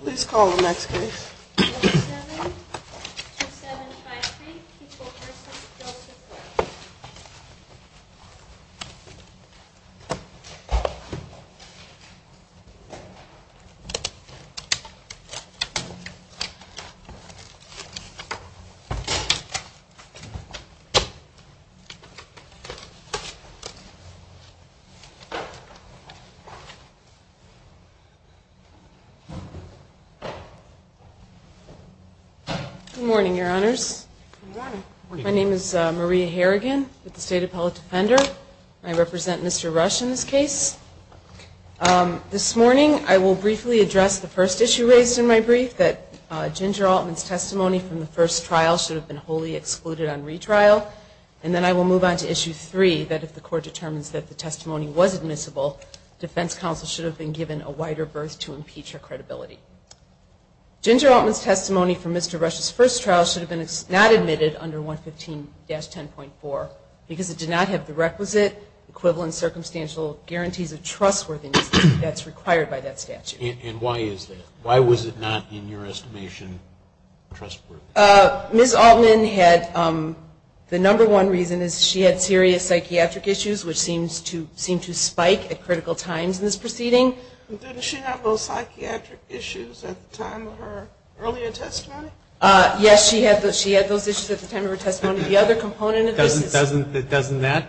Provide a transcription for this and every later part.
Please call the next case. Good morning, Your Honors. My name is Maria Harrigan, State Appellate Defender. I represent Mr. Rush in this case. This morning I will briefly address the first issue raised in my brief, that Ginger Altman's testimony from the first trial should have been wholly excluded on retrial. And then I will move on to Issue 3, that if the Court determines that the testimony was admissible, defense counsel should have been given a wider berth to impeach her credibility. Ginger Altman's testimony from Mr. Rush's first trial should have been not admitted under 115-10.4 because it did not have the requisite, equivalent, circumstantial guarantees of trustworthiness that's required by that statute. And why is that? Why was it not, in your estimation, trustworthy? Ms. Altman had, the number one reason is she had serious psychiatric issues, which seems to spike at critical times in this proceeding. Didn't she have those psychiatric issues at the time of her earlier testimony? Yes, she had those issues at the time of her testimony. The other component of this is Doesn't that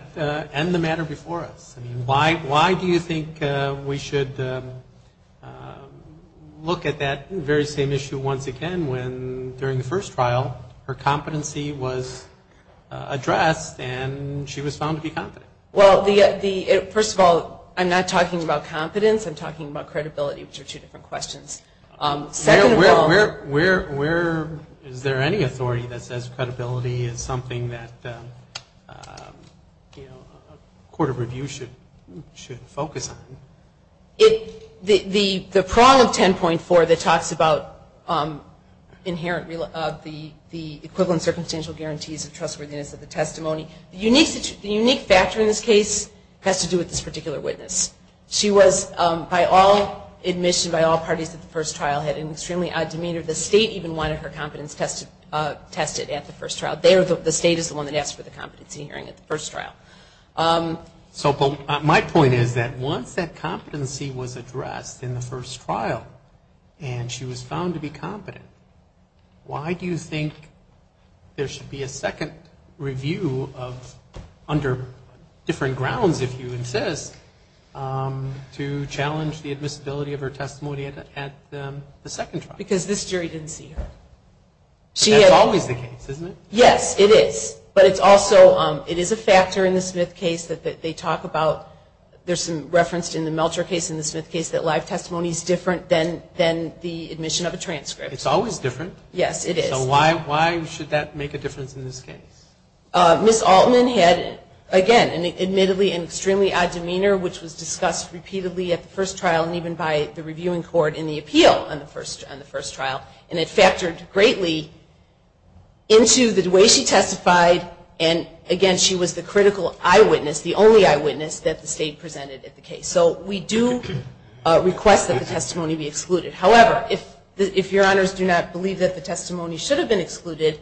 end the matter before us? Why do you think we should look at that very same issue once again when during the first trial her competency was addressed and she was found to be confident? Well, first of all, I'm not talking about competence. I'm talking about credibility, which are two different questions. Where is there any authority that says credibility is something that a court of review should focus on? The prong of 10.4 that talks about the equivalent circumstantial guarantees of trustworthiness of the testimony, the unique factor in this case has to do with this particular witness. She was, by all admission, by all parties at the first trial, had an extremely odd demeanor. The state even wanted her competence tested at the first trial. The state is the one that asked for the competency hearing at the first trial. So my point is that once that competency was addressed in the first trial and she was found to be competent, why do you think there should be a second review of, under different grounds if you insist, to challenge the admissibility of her testimony at the second trial? Because this jury didn't see her. That's always the case, isn't it? Yes, it is. But it's also, it is a factor in the Smith case that they talk about, there's some reference in the Meltzer case and the Smith case that live testimony is different than the admission of a transcript. It's always different. Yes, it is. So why should that make a difference in this case? Ms. Altman had, again, admittedly, an extremely odd demeanor which was discussed repeatedly at the first trial and even by the reviewing court in the appeal on the first trial. And it factored greatly into the way she testified and, again, she was the critical eyewitness, the only eyewitness that the state presented at the case. So we do request that the testimony be excluded. However, if your honors do not believe that the testimony should have been excluded,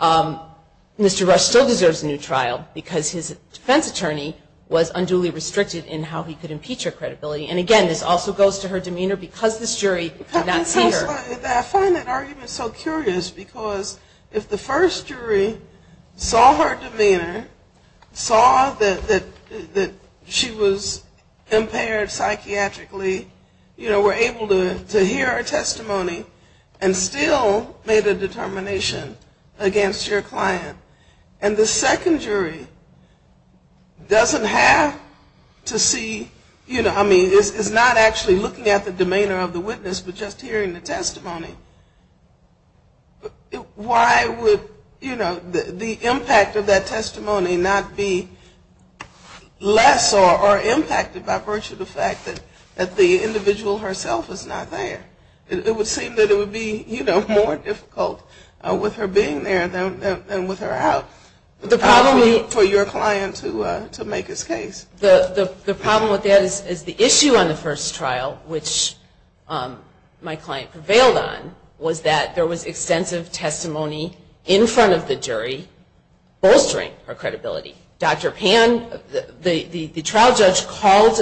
Mr. Rush still deserves a new trial because his defense attorney was unduly restricted in how he could impeach her credibility. And, again, this also goes to her demeanor because this jury did not see her. I find that argument so curious because if the first jury saw her demeanor, saw that she was impaired psychiatrically, you know, were able to hear her testimony and still made a determination against your client, and the second jury doesn't have to see, you know, I mean, is not actually looking at the demeanor of the witness but just hearing the testimony, why would, you know, the impact of that testimony not be less than the impact of what I saw or impacted by virtue of the fact that the individual herself is not there? It would seem that it would be, you know, more difficult with her being there than with her out for your client to make his case. The problem with that is the issue on the first trial, which my client prevailed on, was that there was extensive testimony in front of the jury bolstering her credibility. Dr. Pan, the trial judge, called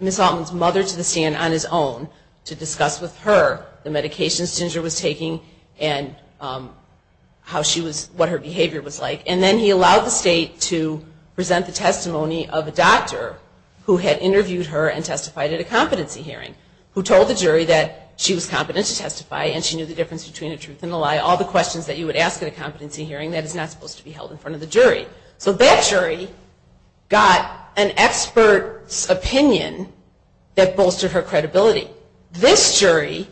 Ms. Altman's mother to the stand on his own to discuss with her the medications Ginger was taking and how she was, what her behavior was like, and then he allowed the state to present the testimony of a doctor who had interviewed her and testified at a competency hearing, who told the jury that she was competent to testify and she knew the difference between a truth and a lie. All the questions that you would ask at a competency hearing, that is not supposed to be held in front of the jury. So that jury got an expert's opinion that bolstered her credibility. This jury,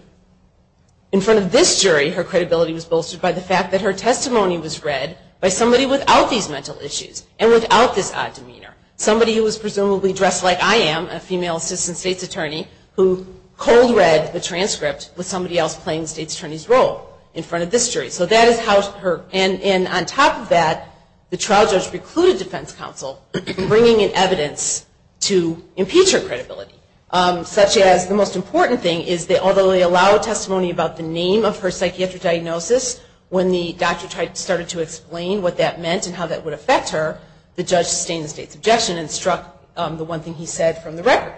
in front of this jury, her credibility was bolstered by the fact that her testimony was read by somebody without these mental issues and without this odd demeanor. Somebody who was presumably dressed like I am, a female assistant state's attorney, who cold read the transcript with somebody else playing the state's attorney's role in front of this jury. So that is how her, and on top of that, the trial judge recluded defense counsel from bringing in evidence to impeach her credibility, such as the most important thing is that although they allowed testimony about the name of her psychiatric diagnosis, when the doctor started to explain what that meant and how that would affect her, the judge sustained the state's objection and struck the one thing he said from the record.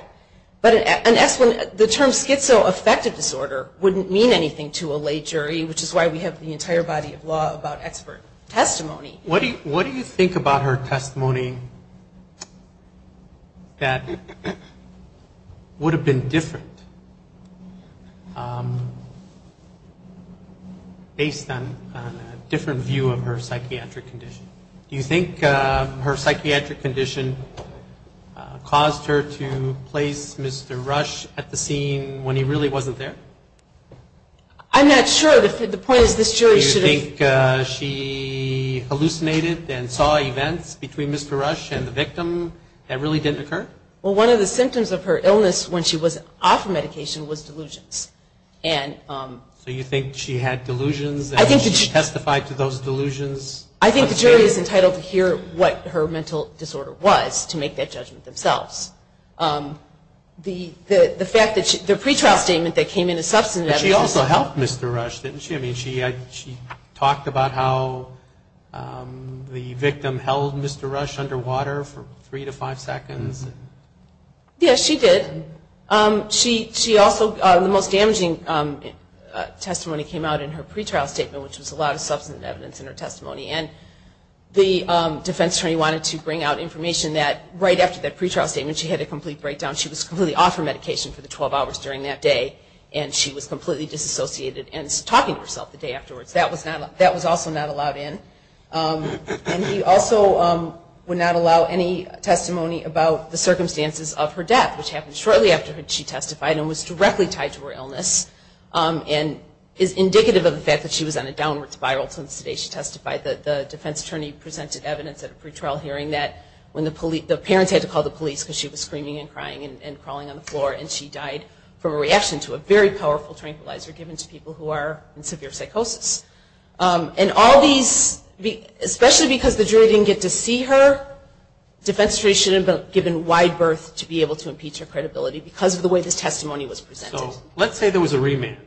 But the term schizoaffective disorder wouldn't mean anything to a lay jury, which is why we have the entire body of law about expert testimony. What do you think about her testimony that would have been different based on a different view of her psychiatric condition? Do you think her psychiatric condition caused her to place Mr. Rush at the scene when he really wasn't there? I'm not sure. The point is this jury should have... Do you think she hallucinated and saw events between Mr. Rush and the victim that really didn't occur? Well, one of the symptoms of her illness when she was off medication was delusions. So you think she had delusions and testified to those delusions? I think the jury is entitled to hear what her mental disorder was to make that judgment themselves. But she also helped Mr. Rush, didn't she? I mean, she talked about how the victim held Mr. Rush under water for three to five seconds. Yes, she did. She also, the most damaging testimony came out in her pretrial statement, which was a lot of substantive evidence in her testimony. And the defense attorney wanted to bring out information that right after that pretrial statement she had a complete breakdown. She was completely off her medication for the 12 hours during that day and she was completely disassociated and talking to herself the day afterwards. That was also not allowed in. And he also would not allow any testimony about the circumstances of her death, which happened shortly after she testified and was directly tied to her illness and is indicative of the fact that she was on a downward spiral since the day she testified. The defense attorney presented evidence at a pretrial hearing that when the parents had to call the police because she was screaming and crying and crawling on the floor and she died from a reaction to a very powerful tranquilizer given to people who are in severe psychosis. And all these, especially because the jury didn't get to see her, the defense attorney shouldn't have been given wide berth to be able to impeach her credibility because of the way this testimony was presented. So let's say there was a remand.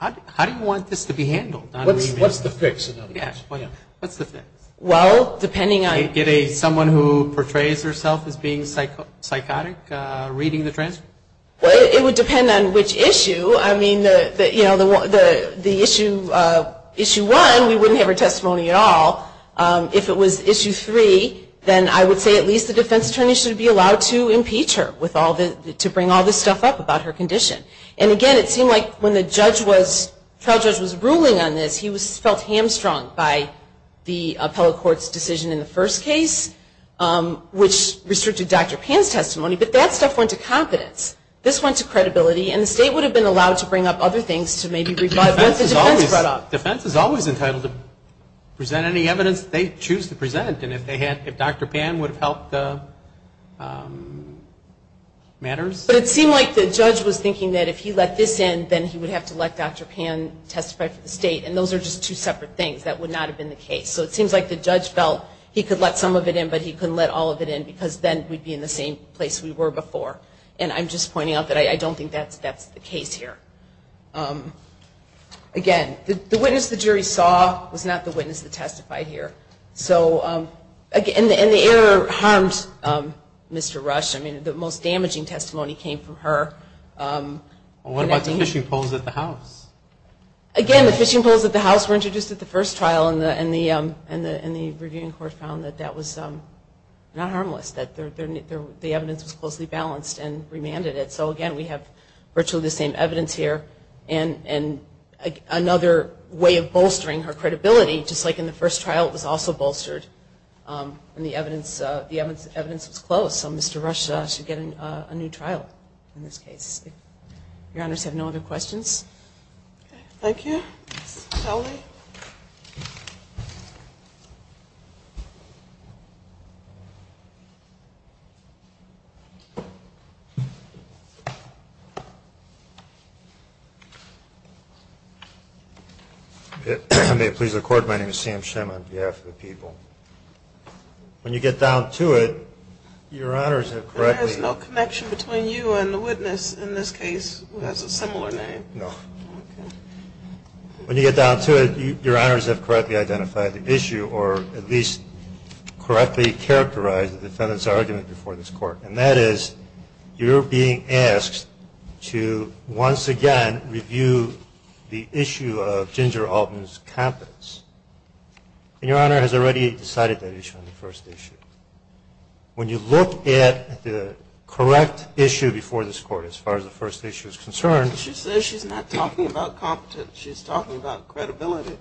How do you want this to be handled? What's the fix? Well, depending on Someone who portrays herself as being psychotic, reading the transcript? It would depend on which issue. I mean, the issue one, we wouldn't have her testimony at all. If it was issue three, then I would say at least the defense attorney should be allowed to impeach her to bring all this stuff up about her condition. And again, it seemed like when the trial judge was ruling on this, he felt hamstrung by the appellate court's decision in the first case, which restricted Dr. Pan's testimony. But that stuff went to confidence. This went to credibility. And the state would have been allowed to bring up other things to maybe rebut what the defense brought up. Defense is always entitled to present any evidence they choose to present. And if Dr. Pan would have helped the matters? But it seemed like the judge was thinking that if he let this in, then he would have to let Dr. Pan testify for the state. And those are just two separate things that would not have been the case. So it seems like the judge felt he could let some of it in, but he couldn't let all of it in, because then we'd be in the same place we were before. And I'm just pointing out that I don't think that's the case here. Again, the witness the jury saw was not the witness that testified here. So, and the error harmed Mr. Rush. I mean, the most damaging testimony came from her. What about the fishing poles at the house? Again, the fishing poles at the house were introduced at the first trial, and the reviewing court found that that was not harmless. That the evidence was closely balanced and remanded it. So again, we have virtually the same evidence here. And another way of bolstering her credibility, just like in the first trial, was also bolstered. And the evidence was close. So Mr. Rush should get a new trial in this case. If your honors have no other questions. Okay, thank you. Mr. Talley. If I may please the court, my name is Sam Shem on behalf of the people. When you get down to it, your honors have correctly There is no connection between you and the witness in this case who has a similar name. No. Okay. When you get down to it, your honors have correctly identified the issue or at least correctly characterized the defendant's argument before this court. And that is, you're being asked to once again review the issue of Ginger Alton's competence. And your honor has already decided that issue on the first issue. When you look at the correct issue before this court as far as the first issue is concerned She says she's not talking about competence, she's talking about credibility.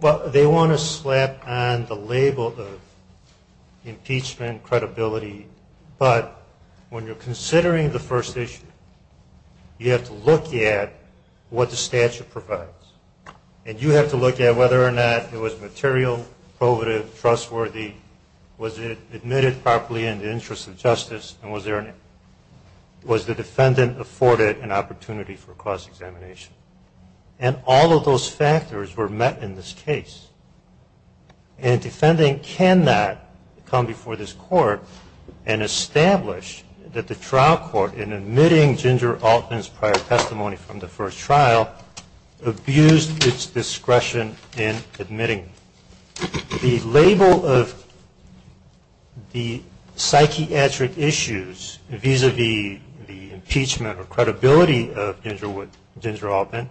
Well, they want to slap on the label of impeachment, credibility, but when you're considering the first issue, you have to look at what the statute provides. And you have to look at whether or not it was material, probative, trustworthy, was it admitted properly in the interest of justice, and was the defendant afforded an opportunity for cross-examination. And all of those factors were met in this case. And a defendant cannot come before this court and establish that the trial court in admitting Ginger Alton's prior testimony from the first trial abused its discretion in admitting. The label of the psychiatric issues vis-a-vis the impeachment or credibility of Ginger Alton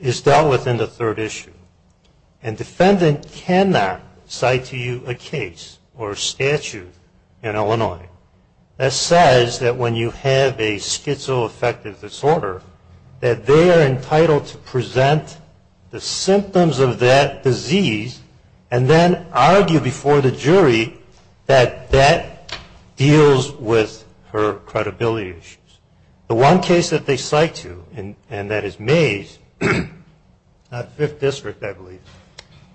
is dealt with in the third issue. And defendant cannot cite to you a case or statute in Illinois that says that when you have a schizoaffective disorder that they are entitled to present the symptoms of that disease and then argue before the jury that that deals with her credibility issues. The one case that they cite to, and that is Mays, 5th District I believe,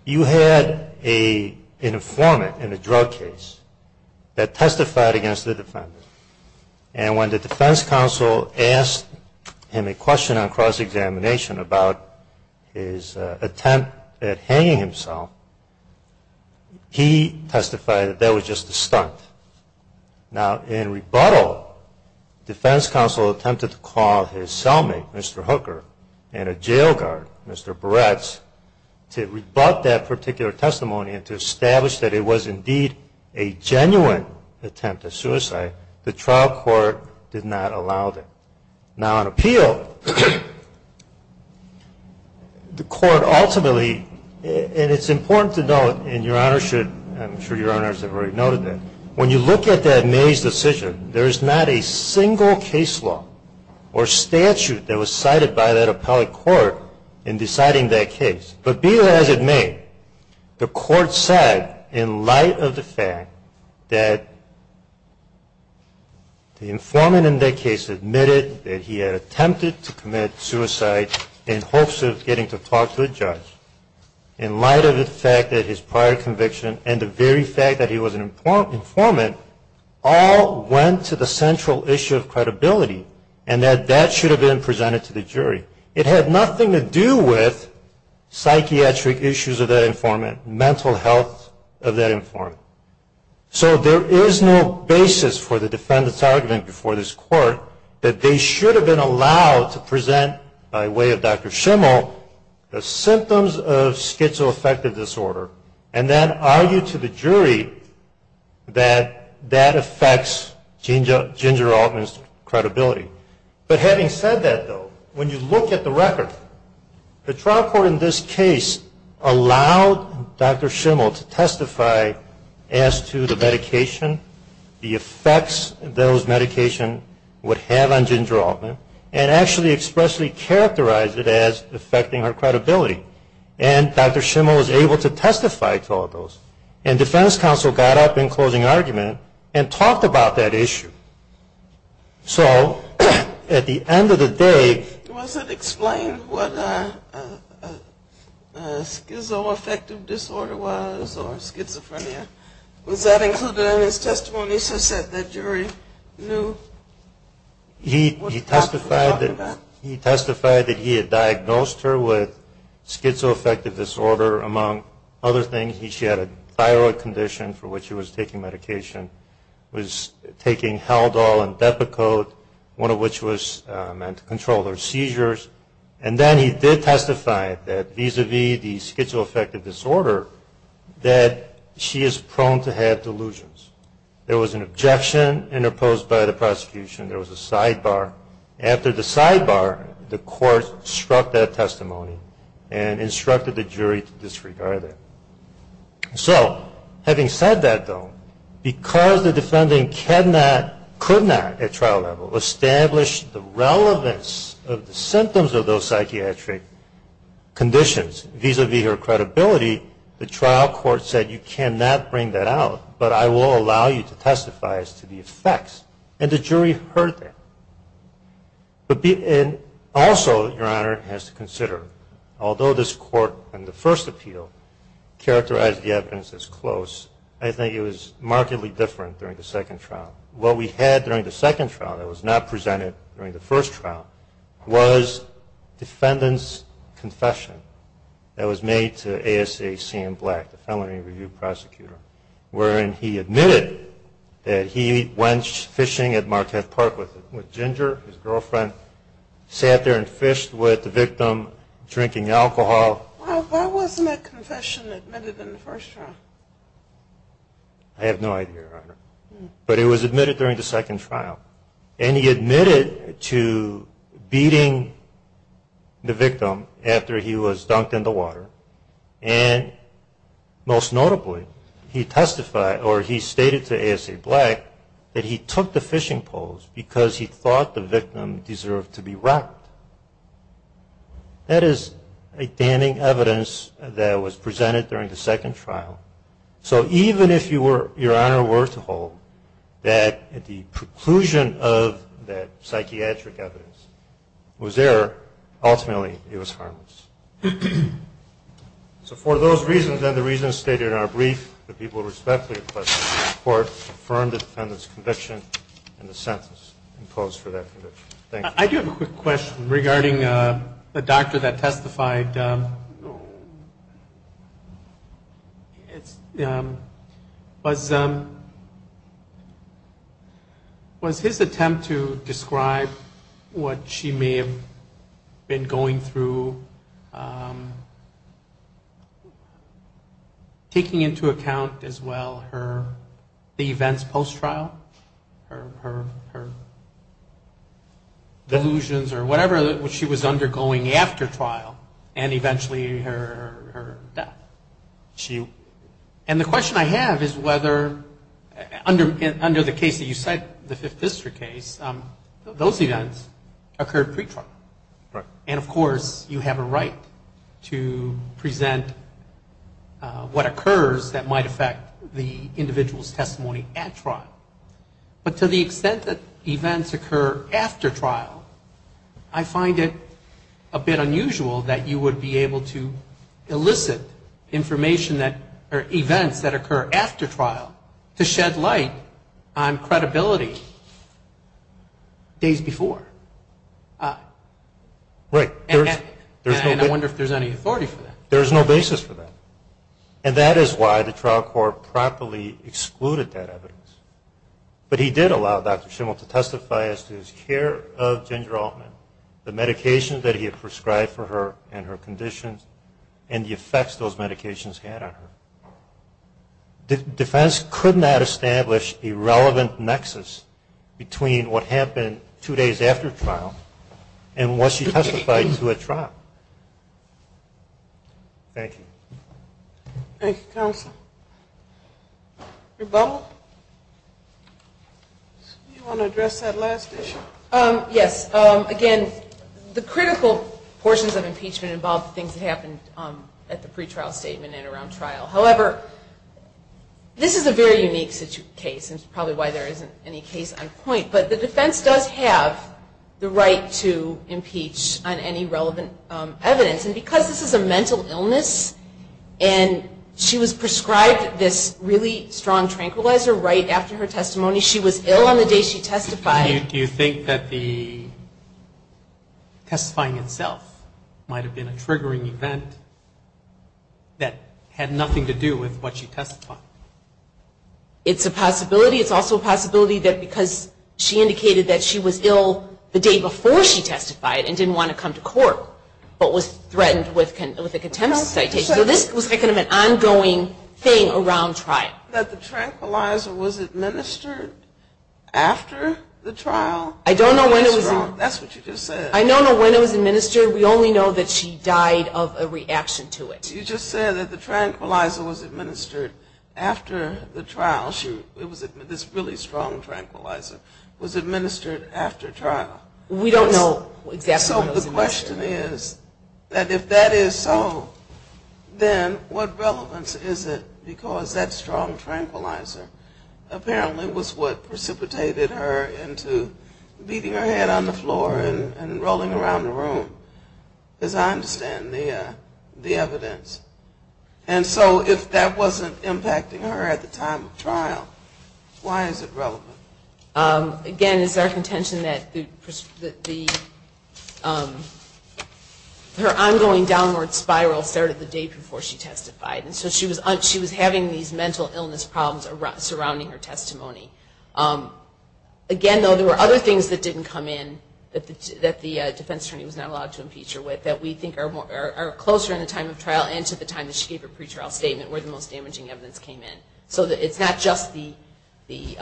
you had an informant in a drug case that testified against the defendant. And when the defense counsel asked him a question on cross-examination about his attempt at hanging himself, he testified that that was just a stunt. Now in rebuttal, defense counsel attempted to call his cellmate, Mr. Hooker, and a jail guard, Mr. Barretts, to rebut that particular testimony and to say that the trial court did not allow that. Now in appeal, the court ultimately, and it's important to note, and your Honor should, I'm sure your Honors have already noted that, when you look at that Mays decision, there is not a single case law or statute that was cited by that appellate court in deciding that case. But be as it may, the court said in light of the fact that the informant in that case admitted that he had attempted to commit suicide in hopes of getting to talk to a judge, in light of the fact that his prior conviction and the very fact that he was an informant all went to the central issue of credibility and that that should have been presented to the jury. It had nothing to do with psychiatric issues of that informant, mental health of that informant. So there is no basis for the defendant's argument before this court that they should have been allowed to present, by way of Dr. Schimel, the symptoms of schizoaffective disorder and then argue to the jury that that affects Ginger Altman's credibility. But having said that though, when you look at the record, the trial court in this case allowed Dr. Schimel to testify as to the medication, the effects those medications would have on Ginger Altman, and actually expressly characterized it as affecting her credibility. And Dr. Schimel was able to testify to all of those. And defense counsel got up in closing argument and talked about that issue. So at the end of the day... Was it explained what schizoaffective disorder was or schizophrenia? Was that included in his testimony? He said that the jury knew... He testified that he had diagnosed her with schizoaffective disorder among other things. She had a thyroid condition for which she was taking medication, was taking Haldol and Depakote, one of which was meant to control her seizures. And then he did testify that vis-a-vis the schizoaffective disorder, that she is prone to have delusions. There was an objection interposed by the prosecution. There was a sidebar. After the sidebar, the court struck that testimony and instructed the jury to disregard it. So, having said that though, because the defendant could not, at trial level, establish the relevance of the symptoms of those psychiatric conditions vis-a-vis her credibility, the trial court said, you cannot bring that out, but I will allow you to testify as to the effects. And also, Your Honor, has to consider, although this court, in the first appeal, characterized the evidence as close, I think it was markedly different during the second trial. What we had during the second trial that was not presented during the first trial was defendant's confession that was made to ASA C.M. Black, the felony review prosecutor, wherein he admitted that he went fishing at Marquette Park with Ginger, his girlfriend, sat there and fished with the victim, drinking alcohol. Why wasn't that confession admitted in the first trial? I have no idea, Your Honor. But it was admitted during the second trial. And he admitted to beating the victim after he was dunked in the water. And, most notably, he testified, or he stated to ASA Black, that he took the fishing poles because he thought the victim deserved to be rocked. That is a damning evidence that was presented during the second trial. So even if Your Honor were to hold that the preclusion of that psychiatric evidence was there, ultimately, it was harmless. So for those reasons, and the reasons stated in our brief, the people respectfully request that the court affirm the defendant's conviction and the sentence imposed for that conviction. Thank you. I do have a quick question regarding the doctor that testified. Was his attempt to describe what she may have been going through and taking into account, as well, the events post-trial, her delusions or whatever that she was undergoing after trial, and eventually her death? And the question I have is whether, under the case that you cite, the Fifth District case, those events occurred pre-trial. And, of course, you have a right to present what occurs that might affect the individual's testimony at trial. But to the extent that events occur after trial, I find it a bit unusual that you would be able to elicit information that, or events that occur after trial to shed light on credibility days before. Right. And I wonder if there's any authority for that. There's no basis for that. And that is why the trial court properly excluded that evidence. But he did allow Dr. Schimel to testify as to his care of Ginger Altman, the medications that he had prescribed for her and her conditions, and the effects those medications had on her. Defense could not establish a relevant nexus between what happened two days after trial and what she testified to at trial. Thank you. Thank you, counsel. Rebuttal? You want to address that last issue? Yes. Again, the critical portions of impeachment involve the things that happened at the pre-trial statement and around trial. However, this is a very unique case and probably why there isn't any case on point. But the defense does have the right to impeach on any relevant evidence. And because this is a mental illness and she was prescribed this really strong tranquilizer right after her testimony, she was ill on the day she testified. Do you think that the testifying itself might have been a triggering event that had nothing to do with what she testified? It's a possibility. It's also a possibility that because she indicated that she was ill the day before she testified and didn't want to come to court but was threatened with a contempt citation. So this was kind of an ongoing thing around trial. That the tranquilizer was administered after the trial? I don't know when it was administered. We only know that she died of a reaction to it. You just said that the tranquilizer was administered after the trial. This really strong tranquilizer was administered after trial. We don't know exactly when it was administered. So the question is that if that is so, then what relevance is it because that strong tranquilizer apparently was what precipitated her into beating her head on the floor and rolling around the room, as I understand the evidence. And so if that wasn't impacting her at the time of trial, why is it relevant? Again, it's our contention that her ongoing downward spiral started the day before she testified. So she was having these mental illness problems surrounding her testimony. Again, though, there were other things that didn't come in that the defense attorney was not allowed to impeach her with that we think are closer in the time of trial and to the time that she gave her pretrial statement where the most damaging evidence came in. So it's not just the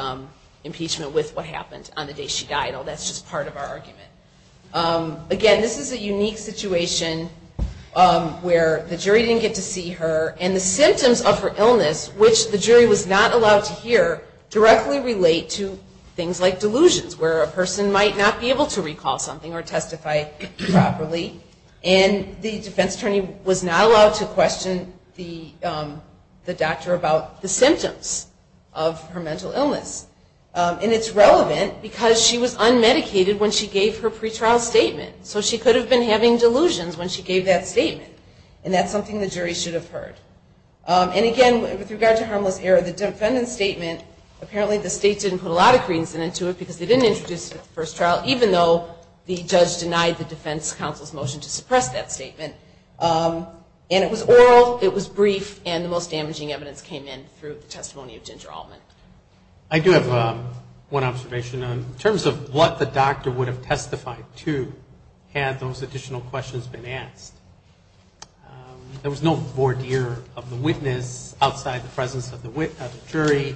impeachment with what happened on the day she died. That's just part of our argument. Again, this is a unique situation where the jury didn't get to see her and the symptoms of her illness, which the jury was not allowed to hear, directly relate to things like delusions where a person might not be able to recall something or testify properly and the defense attorney was not allowed to question the doctor about the symptoms of her mental illness. And it's relevant because she was unmedicated when she gave her pretrial statement. So she could have been having delusions when she gave that statement. And that's something the jury should have heard. And again, with regard to harmless error, the defendant's statement, apparently the state didn't put a lot of credence into it because they didn't introduce it at the first trial I do have one observation. In terms of what the doctor would have testified to had those additional questions been asked, there was no voir dire of the witness outside the presence of the jury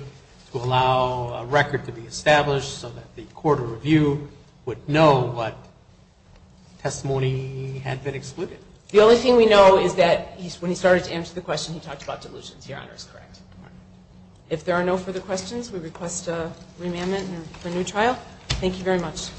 to allow a record to be established so that the court of review would know what testimony had been excluded. The only thing we know is that when he started to answer the question, he talked about delusions. If there are no further questions, we request a remandment for a new trial. Thank you very much.